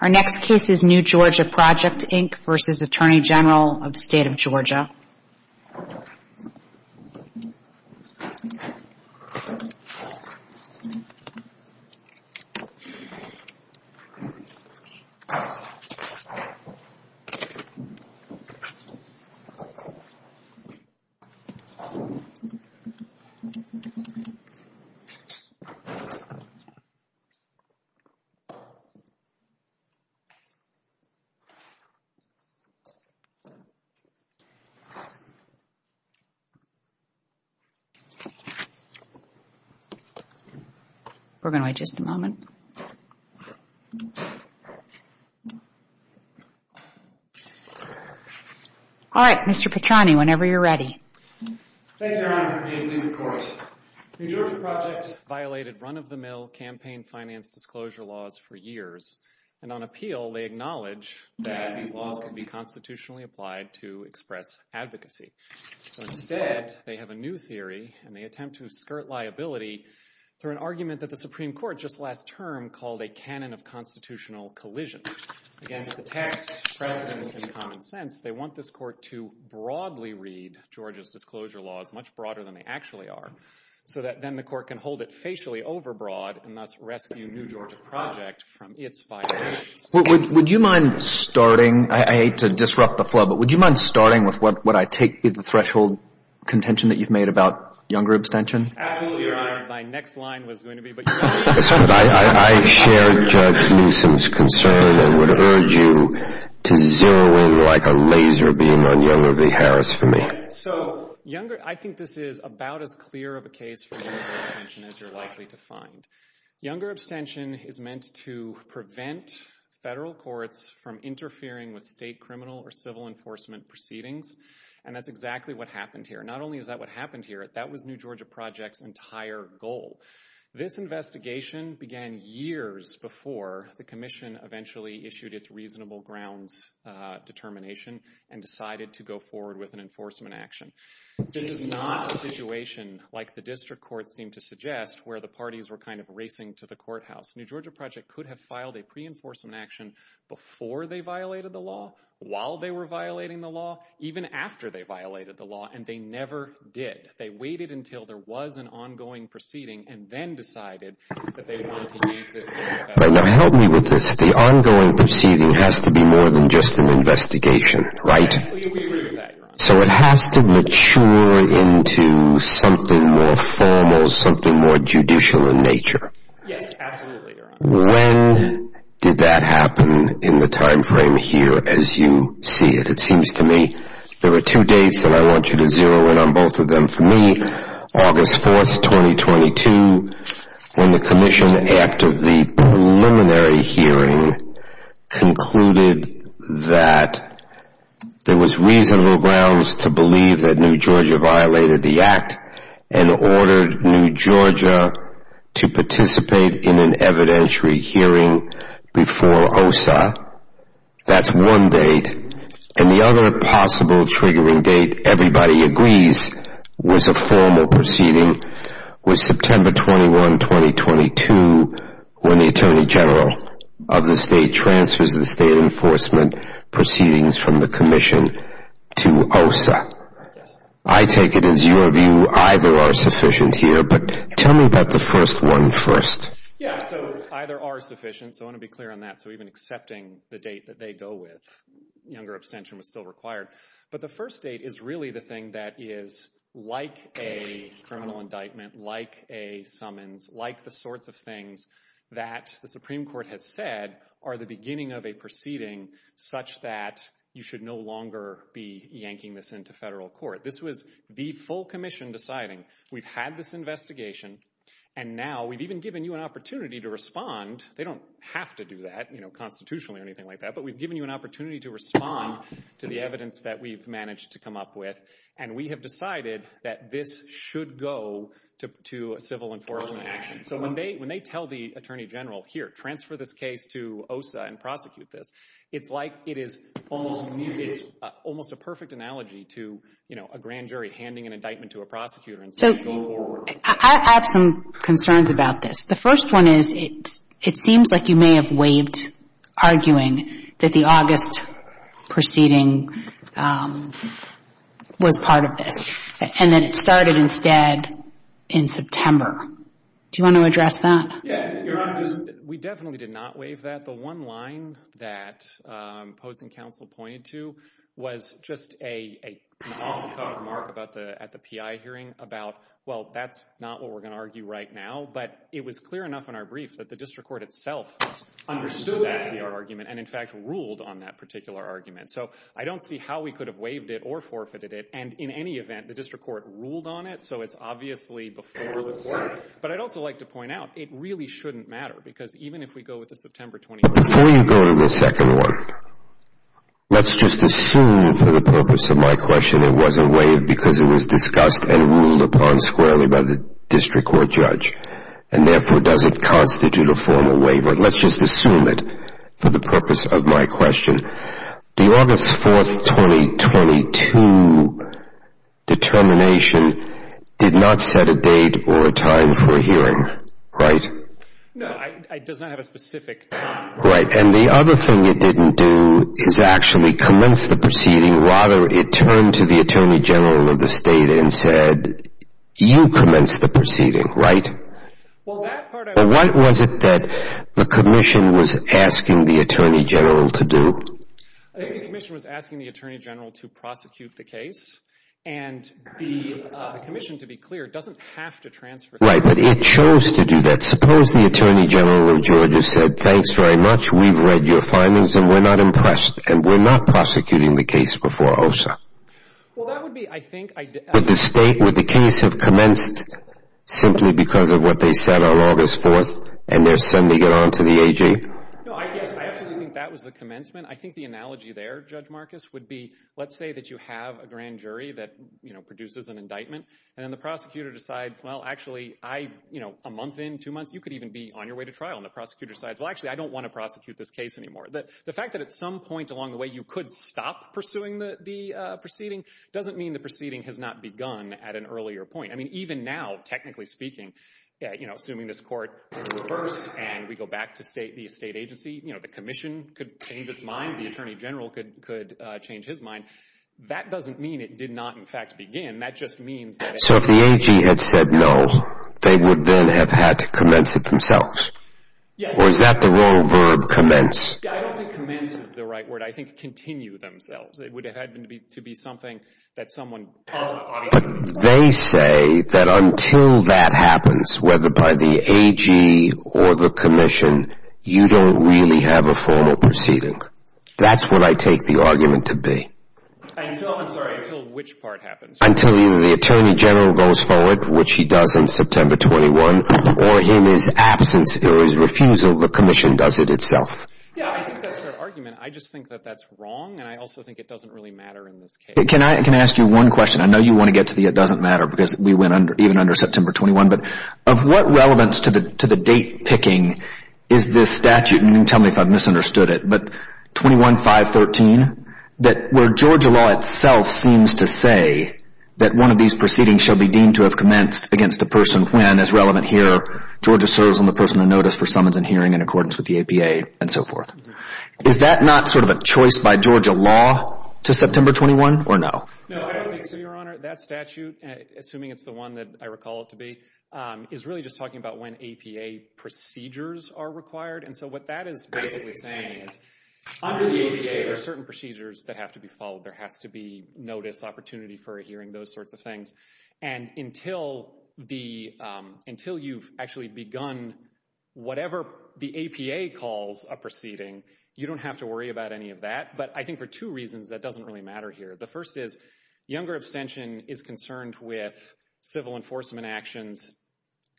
Our next case is New Georgia Project, Inc. v. Attorney General, State of Georgia v. Attorney General, State of Georgia New Georgia Project violated run-of-the-mill campaign finance disclosure laws for years, and on appeal, they acknowledge that these laws can be constitutionally applied to express advocacy. So instead, they have a new theory, and they attempt to skirt liability through an argument that the Supreme Court just last term called a canon of constitutional collision. Against the text, precedent, and common sense, they want this court to broadly read Georgia's disclosure laws, much broader than they actually are, so that then the court can hold it facially overbroad and thus rescue New Georgia Project from its violations. Would you mind starting, I hate to disrupt the flow, but would you mind starting with what I take is the threshold contention that you've made about younger abstention? Absolutely, Your Honor. My next line was going to be, but you're not going to hear it. I share Judge Newsom's concern and would urge you to zero in like a laser beam on Younger v. Harris for me. So, I think this is about as clear of a case for younger abstention as you're likely to find. Younger abstention is meant to prevent federal courts from interfering with state criminal or civil enforcement proceedings, and that's exactly what happened here. Not only is that what happened here, that was New Georgia Project's entire goal. This investigation began years before the commission eventually issued its reasonable grounds determination and decided to go forward with an enforcement action. This is not a situation like the district courts seem to suggest, where the parties were kind of racing to the courthouse. New Georgia Project could have filed a pre-enforcement action before they violated the law, while they were violating the law, even after they violated the law, and they never did. They waited until there was an ongoing proceeding and then decided that they wanted to use this. Now help me with this, the ongoing proceeding has to be more than just an investigation, right? Exactly, we agree with that, Your Honor. So it has to mature into something more formal, something more judicial in nature. Yes, absolutely, Your Honor. When did that happen in the time frame here as you see it? It seems to me there are two dates that I want you to zero in on both of them. For me, August 4th, 2022, when the commission after the preliminary hearing concluded that there was reasonable grounds to believe that New Georgia violated the act and ordered New Georgia to participate in an evidentiary hearing before OSA. That's one date, and the other possible triggering date, everybody agrees, was a formal proceeding, was September 21, 2022, when the Attorney General of the state transfers the state enforcement proceedings from the commission to OSA. I take it as either of you are sufficient here, but tell me about the first one first. Yeah, so either are sufficient, so I want to be clear on that. So even accepting the date that they go with, younger abstention was still required. But the first date is really the thing that is like a criminal indictment, like a summons, like the sorts of things that the Supreme Court has said are the beginning of a proceeding such that you should no longer be yanking this into federal court. This was the full commission deciding. We've had this investigation, and now we've even given you an opportunity to respond. They don't have to do that, you know, constitutionally or anything like that, but we've given you an opportunity to respond to the evidence that we've managed to come up with, and we have decided that this should go to civil enforcement action. So when they tell the Attorney General, here, transfer this case to OSA and prosecute this, it's like it is almost a perfect analogy to, you know, a grand jury handing an indictment to a prosecutor and saying go forward. I have some concerns about this. The first one is it seems like you may have waived arguing that the August proceeding was part of this and that it started instead in September. Do you want to address that? Yeah, Your Honor, we definitely did not waive that. The one line that opposing counsel pointed to was just an off-the-cuff remark at the PI hearing about, well, that's not what we're going to argue right now, but it was clear enough in our brief that the district court itself understood that to be our argument and, in fact, ruled on that particular argument. So I don't see how we could have waived it or forfeited it. And in any event, the district court ruled on it, so it's obviously before the court. But I'd also like to point out it really shouldn't matter because even if we go with the September 21st. But before you go to the second one, let's just assume for the purpose of my question it wasn't waived because it was discussed and ruled upon squarely by the district court judge and, therefore, does it constitute a formal waiver. Let's just assume it for the purpose of my question. The August 4th, 2022 determination did not set a date or a time for a hearing, right? No, it does not have a specific time. Right. And the other thing it didn't do is actually commence the proceeding and, rather, it turned to the attorney general of the state and said, you commence the proceeding, right? Well, that part I would agree with. But what was it that the commission was asking the attorney general to do? I think the commission was asking the attorney general to prosecute the case. And the commission, to be clear, doesn't have to transfer the case. Right, but it chose to do that. Suppose the attorney general of Georgia said, thanks very much, we've read your findings and we're not impressed and we're not prosecuting the case before OSHA. Well, that would be, I think. Would the case have commenced simply because of what they said on August 4th and they're sending it on to the AG? No, I guess. I actually think that was the commencement. I think the analogy there, Judge Marcus, would be, let's say that you have a grand jury that produces an indictment and then the prosecutor decides, well, actually, a month in, two months, you could even be on your way to trial. And the prosecutor decides, well, actually, I don't want to prosecute this case anymore. The fact that at some point along the way you could stop pursuing the proceeding doesn't mean the proceeding has not begun at an earlier point. I mean, even now, technically speaking, assuming this court is reversed and we go back to the state agency, the commission could change its mind, the attorney general could change his mind. That doesn't mean it did not, in fact, begin. So if the AG had said no, they would then have had to commence it themselves? Or is that the wrong verb, commence? I don't think commence is the right word. I think continue themselves. It would have had to be something that someone obviously would have said. But they say that until that happens, whether by the AG or the commission, you don't really have a formal proceeding. That's what I take the argument to be. Until, I'm sorry, until which part happens? Until either the attorney general goes forward, which he does in September 21, or in his absence or his refusal, the commission does it itself. Yeah, I think that's their argument. I just think that that's wrong, and I also think it doesn't really matter in this case. Can I ask you one question? I know you want to get to the it doesn't matter because we went even under September 21. But of what relevance to the date picking is this statute? You can tell me if I've misunderstood it. But 21-513, where Georgia law itself seems to say that one of these proceedings shall be deemed to have commenced against a person when, as relevant here, Georgia serves on the person of notice for summons and hearing in accordance with the APA and so forth. Is that not sort of a choice by Georgia law to September 21 or no? No, I don't think so, Your Honor. That statute, assuming it's the one that I recall it to be, is really just talking about when APA procedures are required. And so what that is basically saying is under the APA, there are certain procedures that have to be followed. There has to be notice, opportunity for a hearing, those sorts of things. And until you've actually begun whatever the APA calls a proceeding, you don't have to worry about any of that. But I think for two reasons that doesn't really matter here. The first is younger abstention is concerned with civil enforcement actions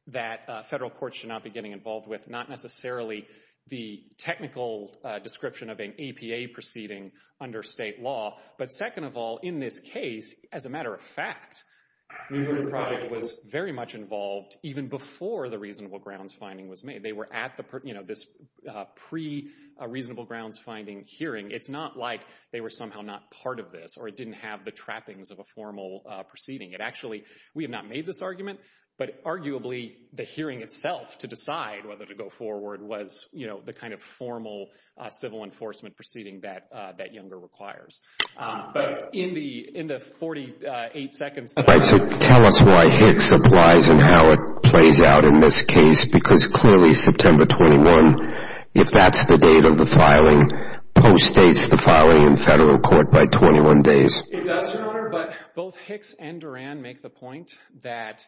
that federal courts should not be getting involved with, not necessarily the technical description of an APA proceeding under state law. But second of all, in this case, as a matter of fact, New Jersey Project was very much involved even before the reasonable grounds finding was made. They were at this pre-reasonable grounds finding hearing. It's not like they were somehow not part of this or it didn't have the trappings of a formal proceeding. Actually, we have not made this argument, but arguably the hearing itself to decide whether to go forward was the kind of formal civil enforcement proceeding that younger requires. But in the 48 seconds that I have. So tell us why Hicks applies and how it plays out in this case because clearly September 21, if that's the date of the filing, postdates the filing in federal court by 21 days. It does, Your Honor, but both Hicks and Duran make the point that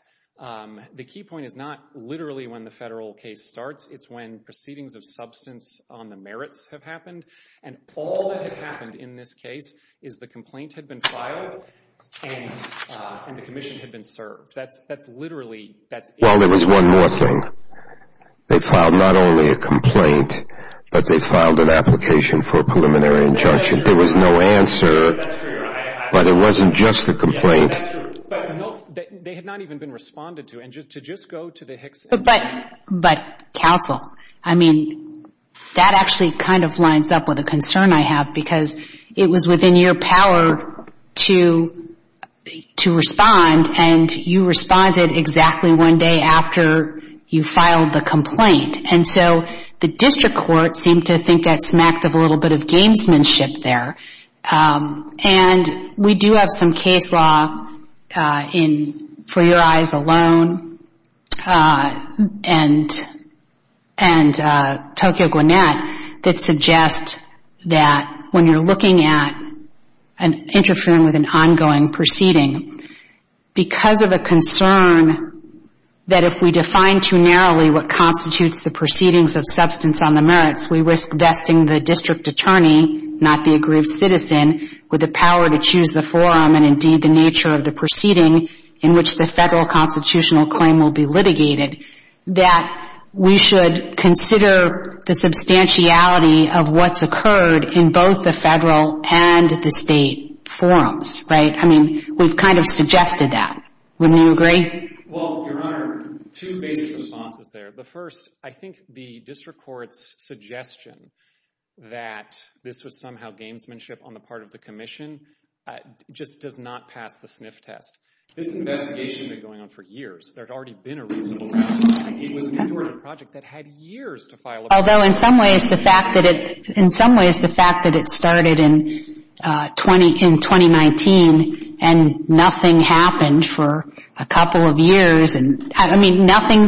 the key point is not literally when the federal case starts. It's when proceedings of substance on the merits have happened. And all that had happened in this case is the complaint had been filed and the commission had been served. That's literally, that's it. Well, there was one more thing. They filed not only a complaint, but they filed an application for a preliminary injunction. There was no answer, but it wasn't just the complaint. That's true. They had not even been responded to. And to just go to the Hicks. But counsel, I mean, that actually kind of lines up with a concern I have because it was within your power to respond and you responded exactly one day after you filed the complaint. And so the district court seemed to think that smacked of a little bit of gamesmanship there. And we do have some case law for your eyes alone and Tokyo Gwinnett that suggest that when you're looking at and interfering with an ongoing proceeding, because of a concern that if we define too narrowly what constitutes the proceedings of substance on the merits, we risk vesting the district attorney, not the aggrieved citizen, with the power to choose the forum and indeed the nature of the proceeding in which the federal constitutional claim will be litigated, that we should consider the substantiality of what's occurred in both the federal and the state forums, right? I mean, we've kind of suggested that. Wouldn't you agree? Well, Your Honor, two basic responses there. The first, I think the district court's suggestion that this was somehow gamesmanship on the part of the commission just does not pass the SNF test. This investigation had been going on for years. There had already been a reasonable estimate. It was an important project that had years to file a complaint. Although in some ways the fact that it started in 2019 and nothing happened for a couple of years, I mean, nothing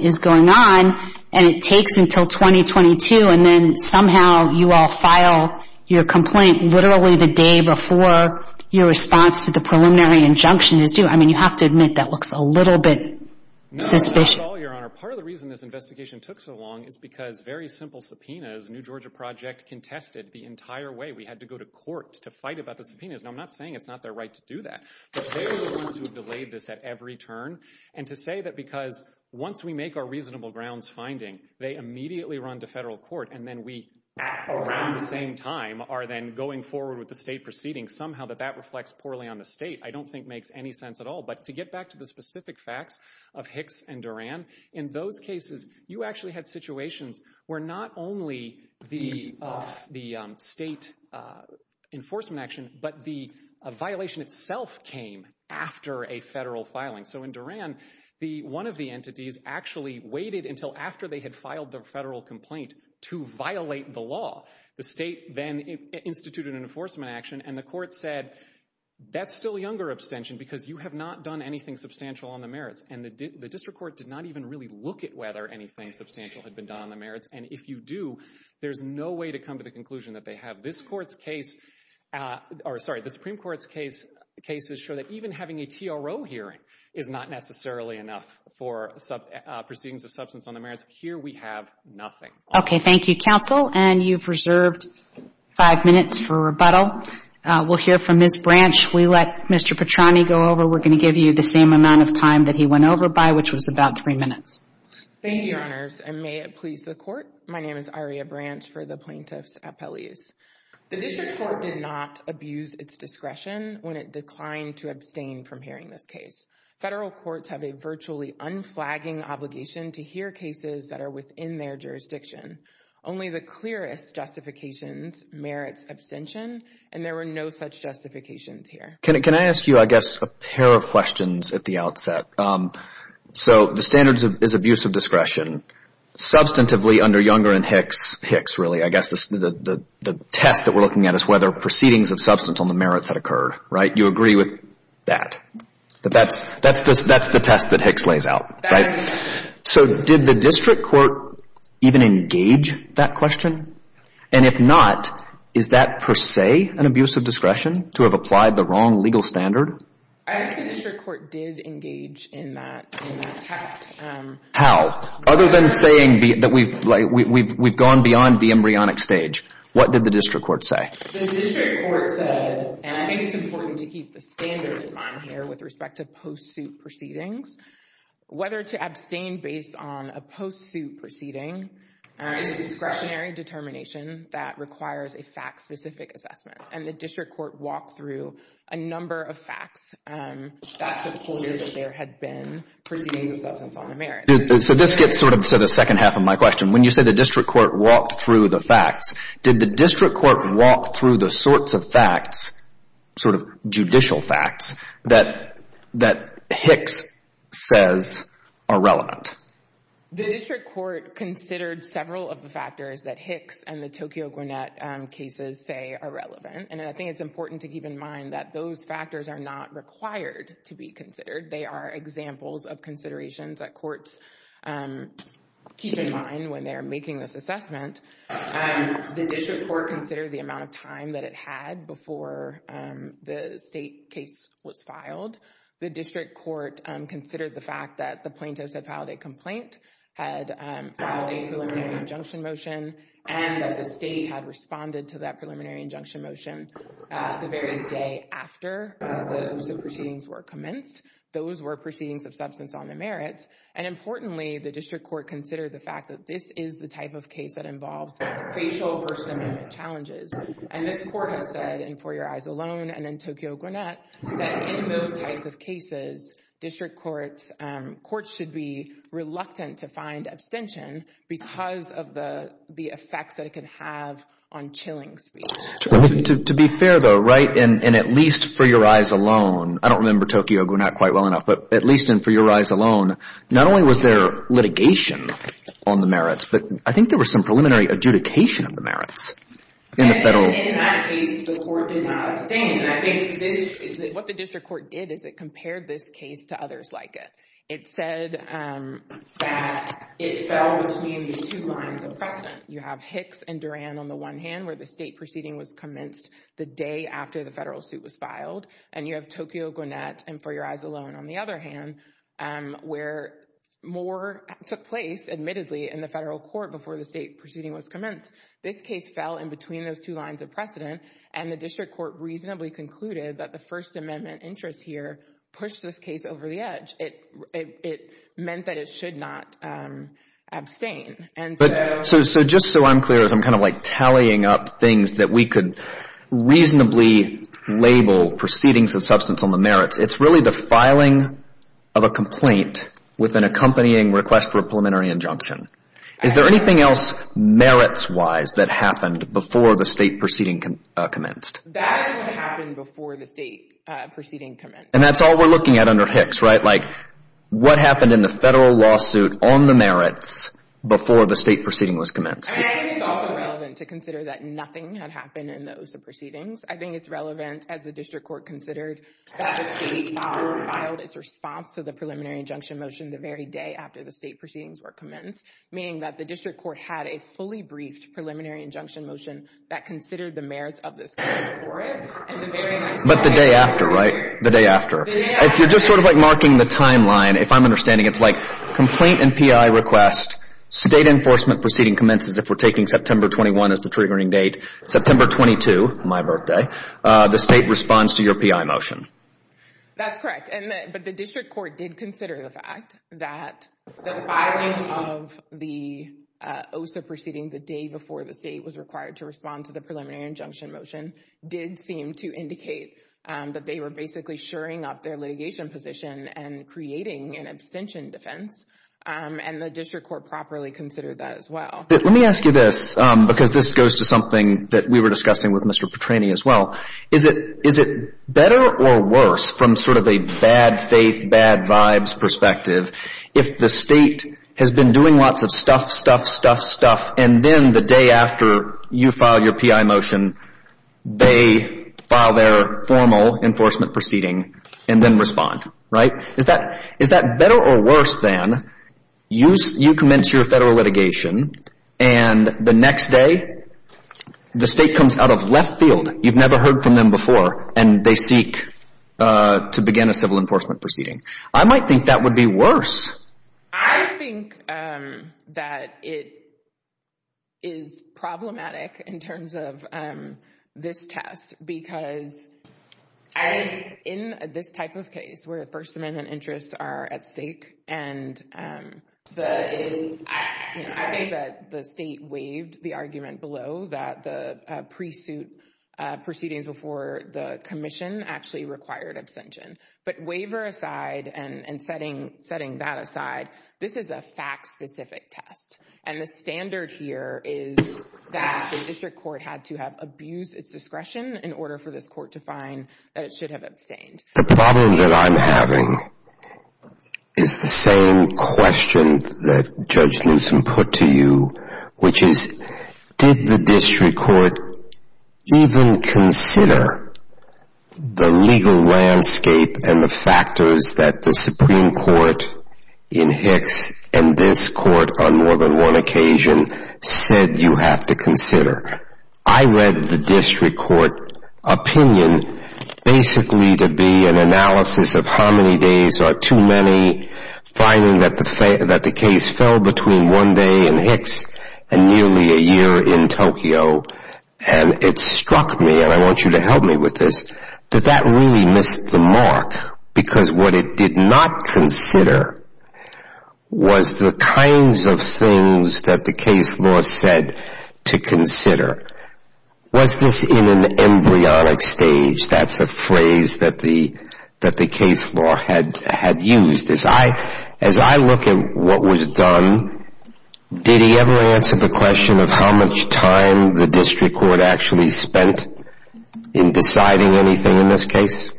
is going on and it takes until 2022 and then somehow you all file your complaint literally the day before your response to the preliminary injunction is due. I mean, you have to admit that looks a little bit suspicious. No, not at all, Your Honor. Part of the reason this investigation took so long is because very simple subpoenas, New Georgia Project contested the entire way. We had to go to court to fight about the subpoenas. Now, I'm not saying it's not their right to do that, but they were the ones who delayed this at every turn. And to say that because once we make our reasonable grounds finding, they immediately run to federal court and then we at around the same time are then going forward with the state proceeding, somehow that that reflects poorly on the state, I don't think makes any sense at all. But to get back to the specific facts of Hicks and Duran, in those cases you actually had situations where not only the state enforcement action, but the violation itself came after a federal filing. So in Duran, one of the entities actually waited until after they had filed the federal complaint to violate the law. The state then instituted an enforcement action and the court said that's still younger abstention because you have not done anything substantial on the merits. And the district court did not even really look at whether anything substantial had been done on the merits. And if you do, there's no way to come to the conclusion that they have. This Court's case, or sorry, the Supreme Court's cases show that even having a TRO hearing is not necessarily enough for proceedings of substance on the merits. Here we have nothing. Okay. Thank you, counsel. And you've reserved five minutes for rebuttal. We'll hear from Ms. Branch. We let Mr. Petrani go over. We're going to give you the same amount of time that he went over by, which was about three minutes. Thank you, Your Honors. And may it please the Court, My name is Aria Branch for the Plaintiffs' Appellees. The district court did not abuse its discretion when it declined to abstain from hearing this case. Federal courts have a virtually unflagging obligation to hear cases that are within their jurisdiction. Only the clearest justifications merits abstention, and there were no such justifications here. Can I ask you, I guess, a pair of questions at the outset? So the standards is abuse of discretion. Substantively under Younger and Hicks, really, I guess the test that we're looking at is whether proceedings of substance on the merits had occurred, right? You agree with that? That's the test that Hicks lays out, right? So did the district court even engage that question? And if not, is that per se an abuse of discretion to have applied the wrong legal standard? I think the district court did engage in that test. How? Other than saying that we've gone beyond the embryonic stage, what did the district court say? The district court said, and I think it's important to keep the standard in mind here with respect to post-suit proceedings, whether to abstain based on a post-suit proceeding is a discretionary determination that requires a fact-specific assessment. And the district court walked through a number of facts that supported that there had been proceedings of substance on the merits. So this gets sort of to the second half of my question. When you say the district court walked through the facts, did the district court walk through the sorts of facts, sort of judicial facts, that Hicks says are relevant? The district court considered several of the factors that Hicks and the Tokyo Gwinnett cases say are relevant. And I think it's important to keep in mind that those factors are not required to be considered. They are examples of considerations that courts keep in mind when they're making this assessment. The district court considered the amount of time that it had before the state case was filed. The district court considered the fact that the plaintiffs had filed a complaint, had filed a preliminary injunction motion, and that the state had responded to that preliminary injunction motion the very day after the proceedings were commenced. Those were proceedings of substance on the merits. And importantly, the district court considered the fact that this is the type of case that involves facial First Amendment challenges. And this court has said, and for your eyes alone, and then Tokyo Gwinnett, that in most types of cases, district courts should be reluctant to find abstention because of the effects that it can have on chilling speech. To be fair, though, right? And at least for your eyes alone, I don't remember Tokyo Gwinnett quite well enough, but at least for your eyes alone, not only was there litigation on the merits, but I think there was some preliminary adjudication of the merits in the federal... In that case, the court did not abstain. And I think what the district court did is it compared this case to others like it. It said that it fell between the two lines of precedent. You have Hicks and Duran on the one hand where the state proceeding was commenced the day after the federal suit was filed, and you have Tokyo Gwinnett, and for your eyes alone, on the other hand, where more took place, admittedly, in the federal court before the state proceeding was commenced. This case fell in between those two lines of precedent, and the district court reasonably concluded that the First Amendment interest here pushed this case over the edge. It meant that it should not abstain. So, just so I'm clear, as I'm kind of like tallying up things that we could reasonably label proceedings of substance on the merits, it's really the filing of a complaint with an accompanying request for a preliminary injunction. Is there anything else merits-wise that happened before the state proceeding commenced? That happened before the state proceeding commenced. And that's all we're looking at under Hicks, right? Like, what happened in the federal lawsuit on the merits before the state proceeding was commenced? And I think it's also relevant to consider that nothing had happened in those proceedings. I think it's relevant, as the district court considered, that the state filed its response to the preliminary injunction motion the very day after the state proceedings were commenced, meaning that the district court had a fully briefed preliminary injunction motion that considered the merits of this case before it. But the day after, right? The day after. If you're just sort of, like, marking the timeline, if I'm understanding, it's like, complaint and PI request, state enforcement proceeding commences if we're taking September 21 as the triggering date. September 22, my birthday, the state responds to your PI motion. That's correct. But the district court did consider the fact that the filing of the OSA proceeding the day before the state was required to respond to the preliminary injunction motion did seem to indicate that they were basically shoring up their litigation position and creating an abstention defense, and the district court properly considered that as well. Let me ask you this, because this goes to something that we were discussing with Mr. Petrani as well. Is it better or worse, from sort of a bad faith, bad vibes perspective, if the state has been doing lots of stuff, stuff, stuff, stuff, and then the day after you file your PI motion, they file their formal enforcement proceeding and then respond, right? Is that better or worse than you commence your federal litigation and the next day the state comes out of left field, you've never heard from them before, and they seek to begin a civil enforcement proceeding? I might think that would be worse. I think that it is problematic in terms of this test, because in this type of case where First Amendment interests are at stake, and I think that the state waived the argument below that the pre-suit proceedings before the commission actually required abstention. But waiver aside and setting that aside, this is a fact-specific test, and the standard here is that the district court had to have abused its discretion in order for this court to find that it should have abstained. The problem that I'm having is the same question that Judge Newsom put to you, which is, did the district court even consider the legal landscape and the factors that the Supreme Court in Hicks and this court on more than one occasion said you have to consider? I read the district court opinion basically to be an analysis of how many days are too many, finding that the case fell between one day in Hicks and nearly a year in Tokyo, and it struck me, and I want you to help me with this, that that really missed the mark, because what it did not consider was the kinds of things that the case law said to consider. Was this in an embryonic stage? That's a phrase that the case law had used. As I look at what was done, did he ever answer the question of how much time the district court actually spent in deciding anything in this case?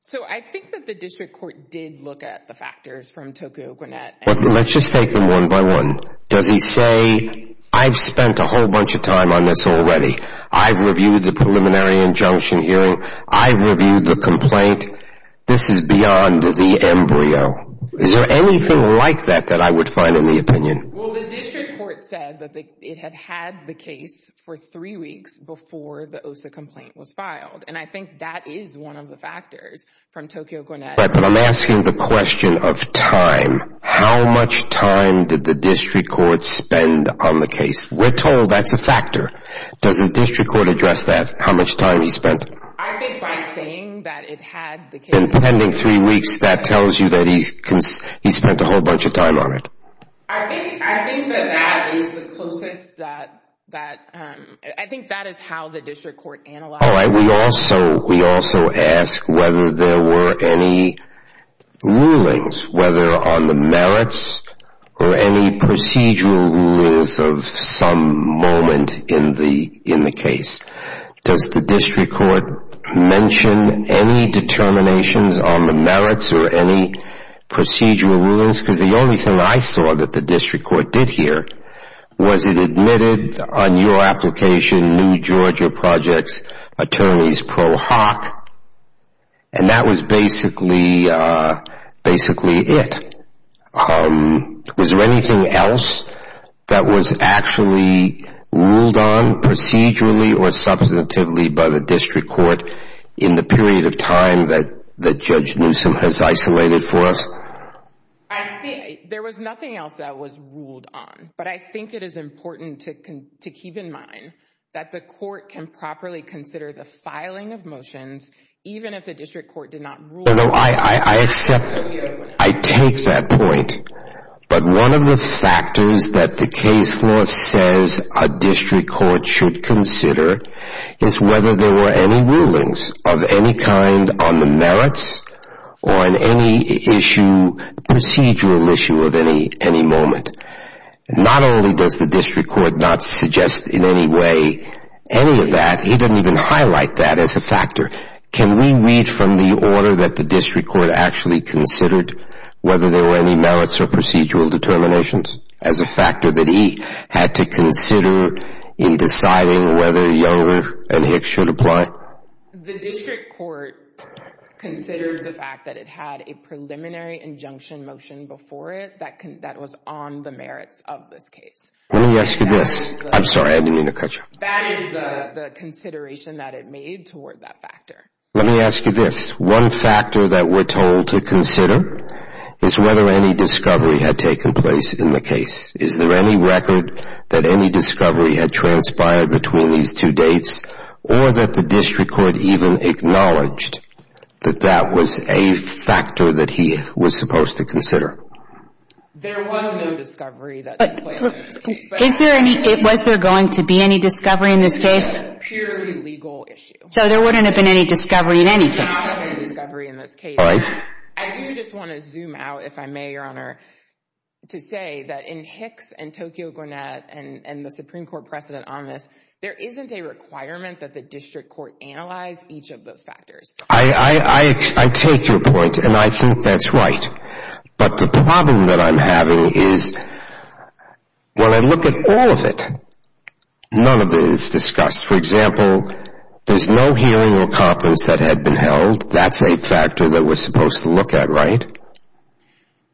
So I think that the district court did look at the factors from Tokyo Gwinnett. Let's just take them one by one. Does he say, I've spent a whole bunch of time on this already. I've reviewed the preliminary injunction hearing. I've reviewed the complaint. This is beyond the embryo. Is there anything like that that I would find in the opinion? Well, the district court said that it had had the case for three weeks before the OSA complaint was filed, and I think that is one of the factors from Tokyo Gwinnett. But I'm asking the question of time. How much time did the district court spend on the case? We're told that's a factor. Doesn't district court address that, how much time he spent? I think by saying that it had the case... In pending three weeks, that tells you that he spent a whole bunch of time on it. I think that that is the closest that... I think that is how the district court analyzed it. All right, we also ask whether there were any rulings, whether on the merits or any procedural rulings of some moment in the case. Does the district court mention any determinations on the merits or any procedural rulings? Because the only thing I saw that the district court did here was it admitted on your application, New Georgia Project's attorneys pro hoc, and that was basically it. Was there anything else that was actually ruled on procedurally or substantively by the district court in the period of time that Judge Newsom has isolated for us? I think there was nothing else that was ruled on, but I think it is important to keep in mind that the court can properly consider the filing of motions even if the district court did not rule... No, no, I accept it. I take that point, but one of the factors that the case law says a district court should consider is whether there were any rulings of any kind on the merits or on any issue, procedural issue of any moment. Not only does the district court not suggest in any way any of that, he didn't even highlight that as a factor. Can we read from the order that the district court actually considered whether there were any merits or procedural determinations as a factor that he had to consider in deciding whether Younger and Hicks should apply? The district court considered the fact that it had a preliminary injunction motion before it that was on the merits of this case. Let me ask you this. I'm sorry, I didn't mean to cut you off. That is the consideration that it made toward that factor. Let me ask you this. One factor that we're told to consider is whether any discovery had taken place in the case. Is there any record that any discovery had transpired between these two dates or that the district court even acknowledged that that was a factor that he was supposed to consider? There was no discovery that took place in this case. Was there going to be any discovery in this case? It was a purely legal issue. So there wouldn't have been any discovery in any case? There would not have been any discovery in this case. I do just want to zoom out, if I may, Your Honor, to say that in Hicks and Tokyo Gwinnett and the Supreme Court precedent on this, there isn't a requirement that the district court analyze each of those factors. I take your point, and I think that's right. But the problem that I'm having is when I look at all of it, none of it is discussed. For example, there's no hearing or conference that had been held. That's a factor that we're supposed to look at, right?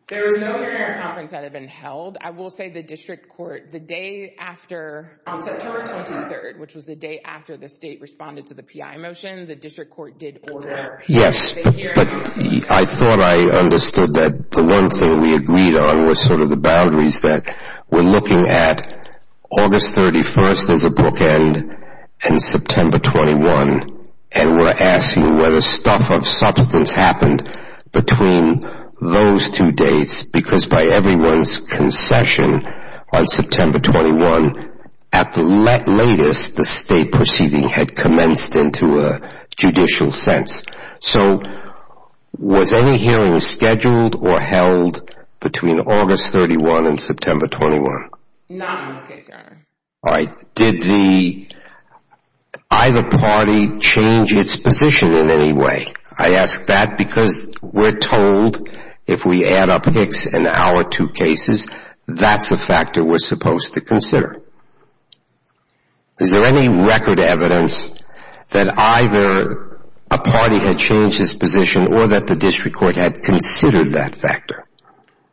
There was no hearing or conference that had been held. I will say the district court, the day after, on September 23rd, which was the day after the state responded to the PI motion, the district court did order a hearing. Yes, but I thought I understood that the one thing we agreed on was sort of the boundaries that we're looking at. August 31st is a bookend, and September 21, and we're asking whether stuff of substance happened between those two dates because by everyone's concession on September 21, at the latest, the state proceeding had commenced into a judicial sense. So was any hearing scheduled or held between August 31 and September 21? Not in this case, Your Honor. All right. Did either party change its position in any way? I ask that because we're told if we add up Hicks and our two cases, that's a factor we're supposed to consider. Is there any record evidence that either a party had changed its position or that the district court had considered that factor?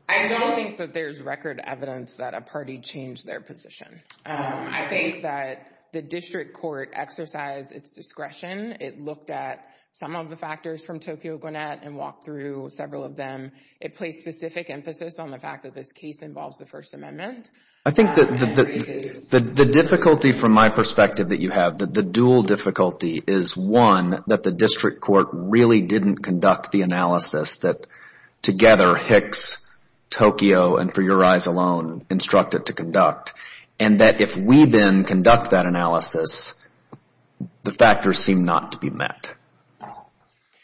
I don't think that there's record evidence that a party changed their position. I think that the district court exercised its discretion. It looked at some of the factors from Tokyo Gwinnett and walked through several of them. It placed specific emphasis on the fact that this case involves the First Amendment. I think that the difficulty from my perspective that you have, the dual difficulty is, one, that the district court really didn't conduct the analysis that together Hicks, Tokyo, and for your eyes alone instructed to conduct, and that if we then conduct that analysis, the factors seem not to be met.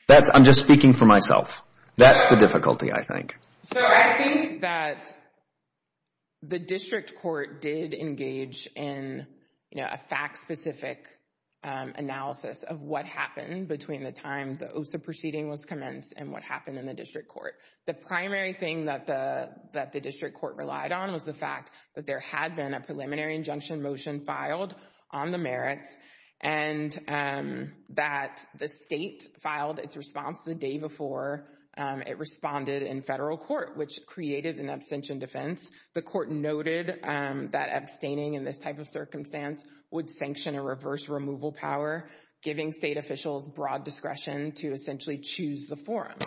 I'm just speaking for myself. That's the difficulty, I think. I think that the district court did engage in a fact-specific analysis of what happened between the time the OSA proceeding was commenced and what happened in the district court. The primary thing that the district court relied on was the fact that there had been a preliminary injunction motion filed on the merits and that the state filed its response the day before it responded in federal court, which created an abstention defense. The court noted that abstaining in this type of circumstance would sanction a reverse removal power, giving state officials broad discretion to essentially choose the forum.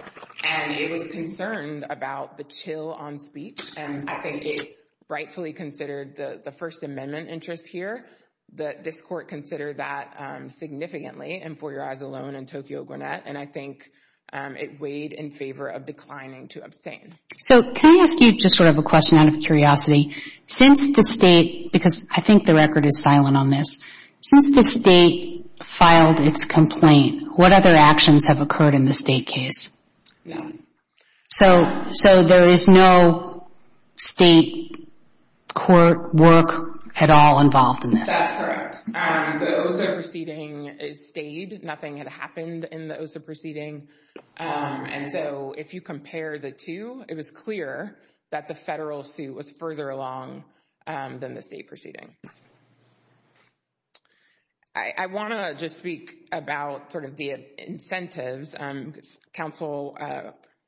It was concerned about the chill on speech, and I think it rightfully considered the First Amendment interest here that this court considered that significantly, and for your eyes alone, and Tokyo Gwinnett, and I think it weighed in favor of declining to abstain. So can I ask you just sort of a question out of curiosity? Since the state, because I think the record is silent on this, since the state filed its complaint, what other actions have occurred in the state case? No. So there is no state court work at all involved in this? That's correct. The OSA proceeding stayed. Nothing had happened in the OSA proceeding. And so if you compare the two, it was clear that the federal suit was further along than the state proceeding. I want to just speak about sort of the incentives. Counsel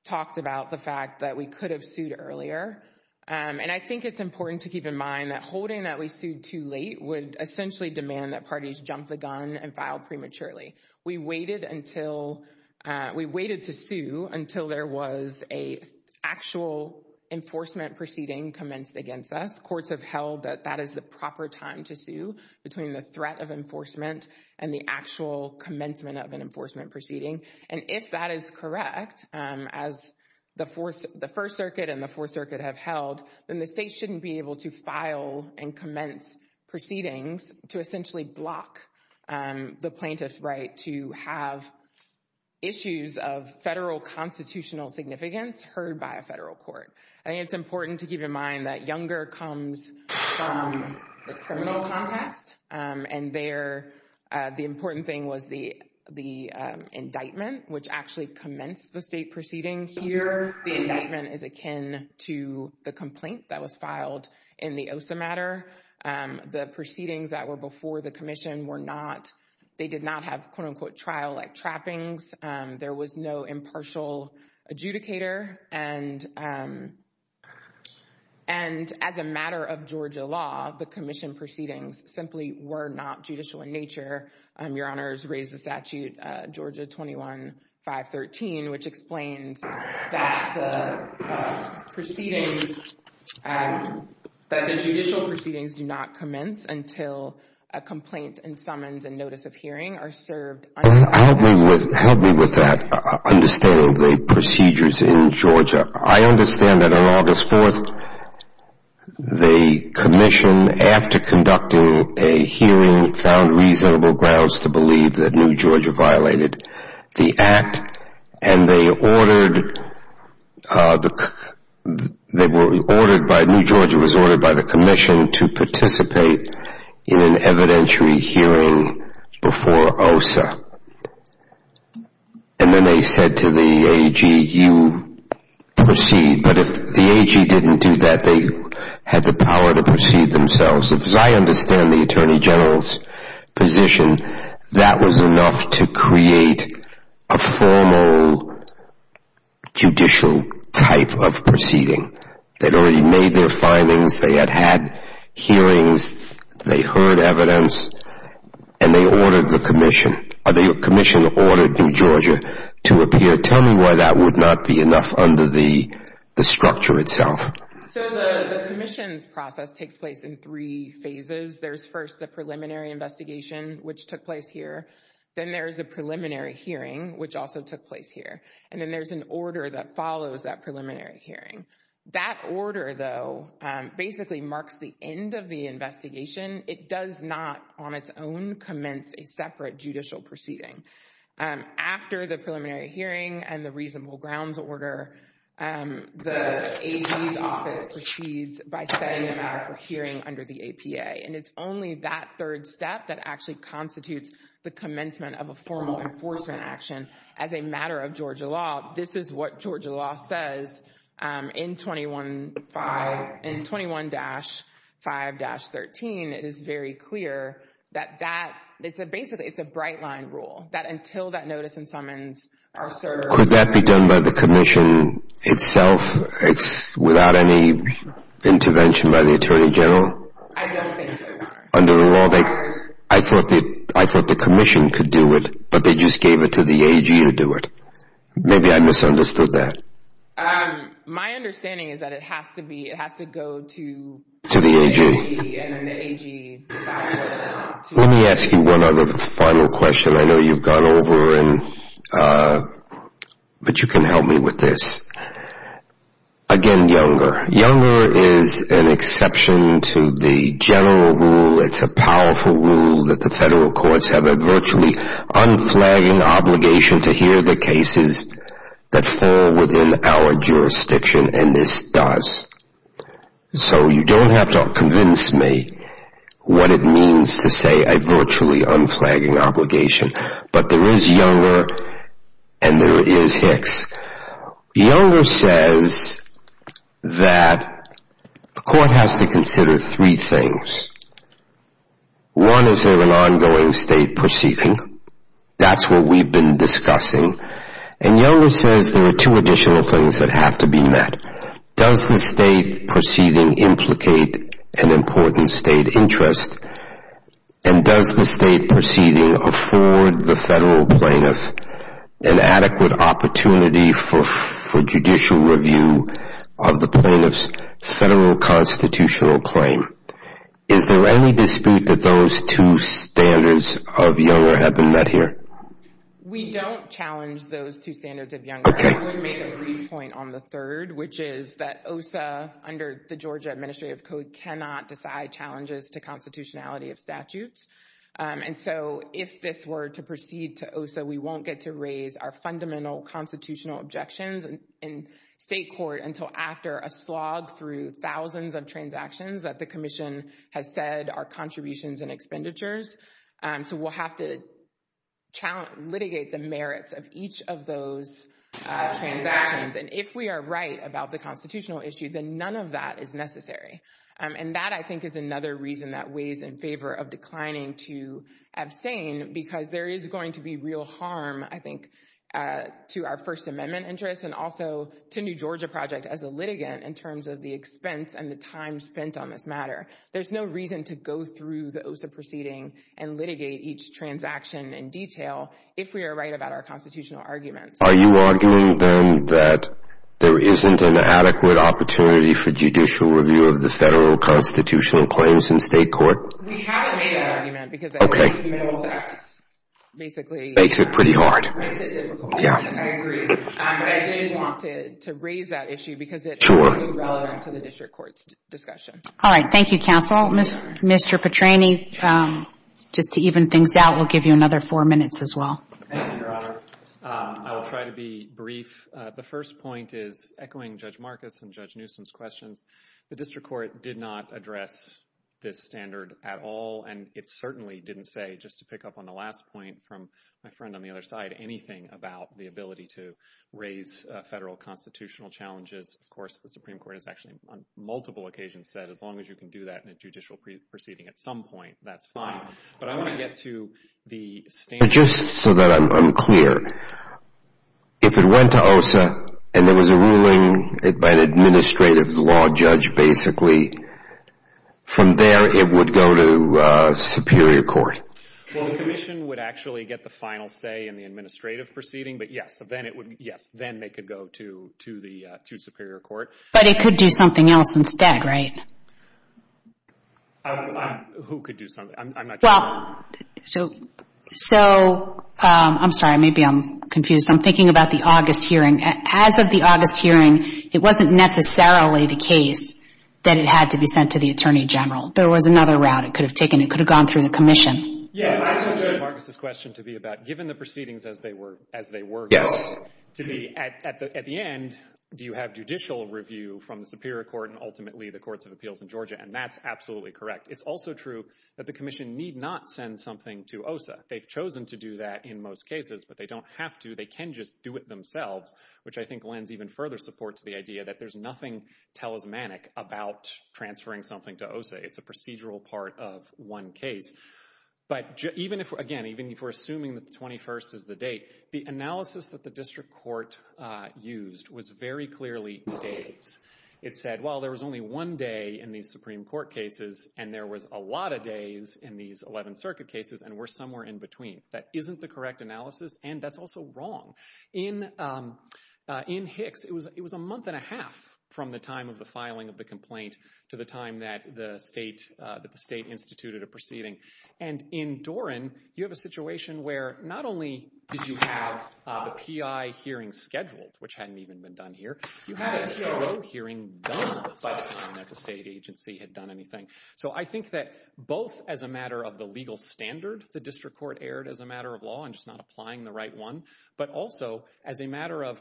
talked about the fact that we could have sued earlier, and I think it's important to keep in mind that holding that we sued too late would essentially demand that parties jump the gun and file prematurely. We waited to sue until there was an actual enforcement proceeding commenced against us. Courts have held that that is the proper time to sue between the threat of enforcement and the actual commencement of an enforcement proceeding. And if that is correct, as the First Circuit and the Fourth Circuit have held, then the state shouldn't be able to file and commence proceedings to essentially block the plaintiff's right to have issues of federal constitutional significance heard by a federal court. I think it's important to keep in mind that Younger comes from the criminal context, and the important thing was the indictment, which actually commenced the state proceeding. Here, the indictment is akin to the complaint that was filed in the OSA matter. The proceedings that were before the commission, they did not have quote-unquote trial-like trappings. There was no impartial adjudicator. And as a matter of Georgia law, the commission proceedings simply were not judicial in nature. Your Honors raised the statute Georgia 21-513, which explains that the judicial proceedings do not commence until a complaint and summons and notice of hearing are served. Help me with that understanding of the procedures in Georgia. I understand that on August 4th, the commission, after conducting a hearing, found reasonable grounds to believe that New Georgia violated the act, and New Georgia was ordered by the commission to participate in an evidentiary hearing before OSA. And then they said to the AG, you proceed. But if the AG didn't do that, they had the power to proceed themselves. As I understand the Attorney General's position, that was enough to create a formal judicial type of proceeding. They'd already made their findings. They had had hearings. They heard evidence. And they ordered the commission, or the commission ordered New Georgia to appear. Tell me why that would not be enough under the structure itself. So the commission's process takes place in three phases. There's first the preliminary investigation, which took place here. Then there's a preliminary hearing, which also took place here. And then there's an order that follows that preliminary hearing. That order, though, basically marks the end of the investigation. It does not, on its own, commence a separate judicial proceeding. After the preliminary hearing and the reasonable grounds order, the AG's office proceeds by setting the matter for hearing under the APA. And it's only that third step that actually constitutes the commencement of a formal enforcement action as a matter of Georgia law. This is what Georgia law says in 21-5-13. It is very clear that that, basically, it's a bright line rule, that until that notice and summons are served. Could that be done by the commission itself without any intervention by the Attorney General? I don't think so, Your Honor. Under the law, I thought the commission could do it, but they just gave it to the AG to do it. Maybe I misunderstood that. My understanding is that it has to go to the AG. Let me ask you one other final question. I know you've gone over, but you can help me with this. Again, Younger. Younger is an exception to the general rule. It's a powerful rule that the federal courts have a virtually unflagging obligation to hear the cases that fall within our jurisdiction, and this does. So you don't have to convince me what it means to say a virtually unflagging obligation. But there is Younger, and there is Hicks. Younger says that the court has to consider three things. One, is there an ongoing state proceeding? That's what we've been discussing. And Younger says there are two additional things that have to be met. Does the state proceeding implicate an important state interest? And does the state proceeding afford the federal plaintiff an adequate opportunity for judicial review of the plaintiff's federal constitutional claim? Is there any dispute that those two standards of Younger have been met here? We don't challenge those two standards of Younger. I would make a brief point on the third, which is that OSA, under the Georgia Administrative Code, cannot decide challenges to constitutionality of statutes. And so if this were to proceed to OSA, we won't get to raise our fundamental constitutional objections in state court until after a slog through thousands of transactions that the commission has said are contributions and expenditures. So we'll have to litigate the merits of each of those transactions. And if we are right about the constitutional issue, then none of that is necessary. And that, I think, is another reason that weighs in favor of declining to abstain, because there is going to be real harm, I think, to our First Amendment interests and also to New Georgia Project as a litigant in terms of the expense and the time spent on this matter. There's no reason to go through the OSA proceeding and litigate each transaction in detail if we are right about our constitutional arguments. Are you arguing, then, that there isn't an adequate opportunity for judicial review of the federal constitutional claims in state court? We haven't made that argument, because I think minimal sex basically makes it difficult. Makes it pretty hard. I agree. But I did want to raise that issue, because it is relevant to the district court's discussion. All right. Thank you, counsel. Mr. Petrany, just to even things out, we'll give you another four minutes as well. Thank you, Your Honor. I will try to be brief. The first point is echoing Judge Marcus and Judge Newsom's questions. The district court did not address this standard at all, and it certainly didn't say, just to pick up on the last point from my friend on the other side, anything about the ability to raise federal constitutional challenges. Of course, the Supreme Court has actually on multiple occasions said, as long as you can do that in a judicial proceeding at some point, that's fine. But I want to get to the standard. Just so that I'm clear, if it went to OSA and there was a ruling by an administrative law judge, basically, from there it would go to superior court? Well, the commission would actually get the final say in the administrative proceeding. But yes, then they could go to superior court. But it could do something else instead, right? Who could do something? I'm not sure. Well, so I'm sorry. Maybe I'm confused. I'm thinking about the August hearing. As of the August hearing, it wasn't necessarily the case that it had to be sent to the attorney general. There was another route it could have taken. It could have gone through the commission. Marcus' question to be about, given the proceedings as they were going to be, at the end, do you have judicial review from the superior court and ultimately the courts of appeals in Georgia? And that's absolutely correct. It's also true that the commission need not send something to OSA. They've chosen to do that in most cases, but they don't have to. They can just do it themselves, which I think lends even further support to the idea that there's nothing talismanic about transferring something to OSA. It's a procedural part of one case. But again, even if we're assuming that the 21st is the date, the analysis that the district court used was very clearly dates. It said, well, there was only one day in these Supreme Court cases, and there was a lot of days in these 11th Circuit cases, and we're somewhere in between. That isn't the correct analysis, and that's also wrong. In Hicks, it was a month and a half from the time of the filing of the complaint to the time that the state instituted a proceeding. And in Doran, you have a situation where not only did you have the PI hearing scheduled, which hadn't even been done here, you had a TAO hearing done by the time that the state agency had done anything. So I think that both as a matter of the legal standard the district court erred as a matter of law and just not applying the right one, but also as a matter of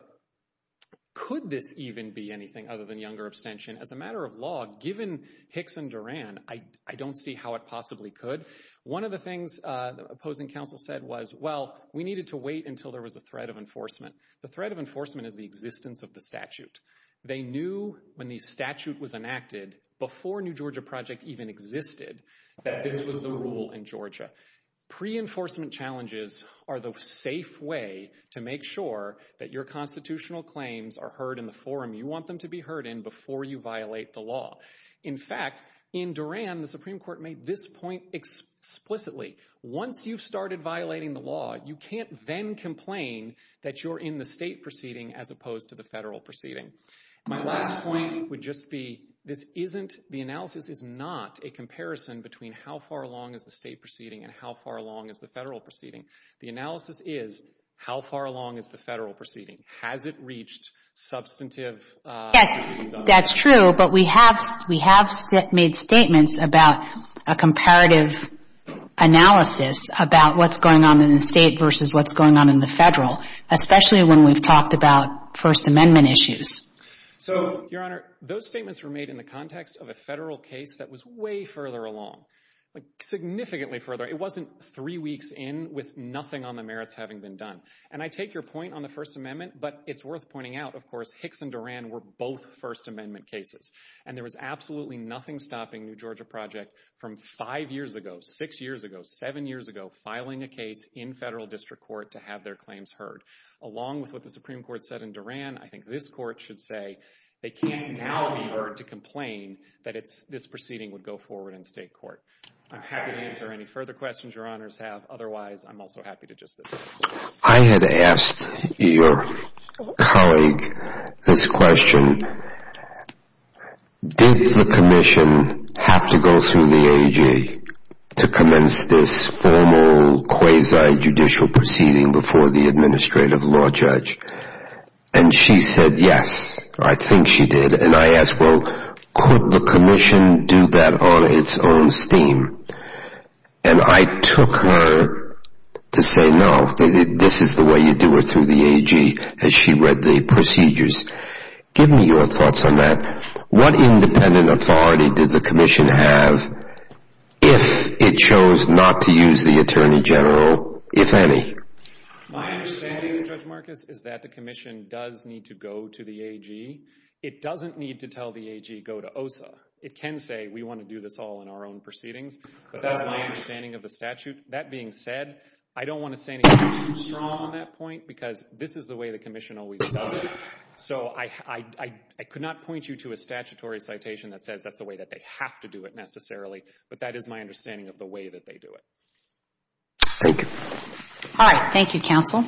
could this even be anything other than younger abstention? As a matter of law, given Hicks and Doran, I don't see how it possibly could. One of the things the opposing counsel said was, well, we needed to wait until there was a threat of enforcement. The threat of enforcement is the existence of the statute. They knew when the statute was enacted, before New Georgia Project even existed, that this was the rule in Georgia. Pre-enforcement challenges are the safe way to make sure that your constitutional claims are heard in the forum you want them to be heard in before you violate the law. In fact, in Doran, the Supreme Court made this point explicitly. Once you've started violating the law, you can't then complain that you're in the state proceeding as opposed to the federal proceeding. My last point would just be, this isn't, the analysis is not a comparison between how far along is the state proceeding and how far along is the federal proceeding. The analysis is, how far along is the federal proceeding? Has it reached substantive... Yes, that's true. But we have made statements about a comparative analysis about what's going on in the state versus what's going on in the federal, especially when we've talked about First Amendment issues. So, Your Honor, those statements were made in the context of a federal case that was way further along, significantly further. It wasn't three weeks in with nothing on the merits having been done. And I take your point on the First Amendment, but it's worth pointing out, of course, Hicks and Doran were both First Amendment cases. And there was absolutely nothing stopping New Georgia Project from five years ago, six years ago, seven years ago, filing a case in federal district court to have their claims heard. Along with what the Supreme Court said in Doran, I think this court should say, they can't now be heard to complain that this proceeding would go forward in state court. I'm happy to answer any further questions Your Honors have. Otherwise, I'm also happy to just sit here. I had asked your colleague this question. Did the commission have to go through the AG to commence this formal quasi-judicial proceeding before the administrative law judge? And she said, yes, I think she did. And I asked, well, could the commission do that on its own steam? And I took her to say, no, this is the way you do it through the AG as she read the procedures. Give me your thoughts on that. What independent authority did the commission have if it chose not to use the Attorney General, if any? My understanding, Judge Marcus, is that the commission does need to go to the AG. It doesn't need to tell the AG, go to OSA. It can say, we want to do this all in our own proceedings. But that's my understanding of the statute. That being said, I don't want to say anything too strong on that point because this is the way the commission always does it. So I could not point you to a statutory citation that says that's the way that they have to do it necessarily. But that is my understanding of the way that they do it. Thank you. All right. Thank you, counsel.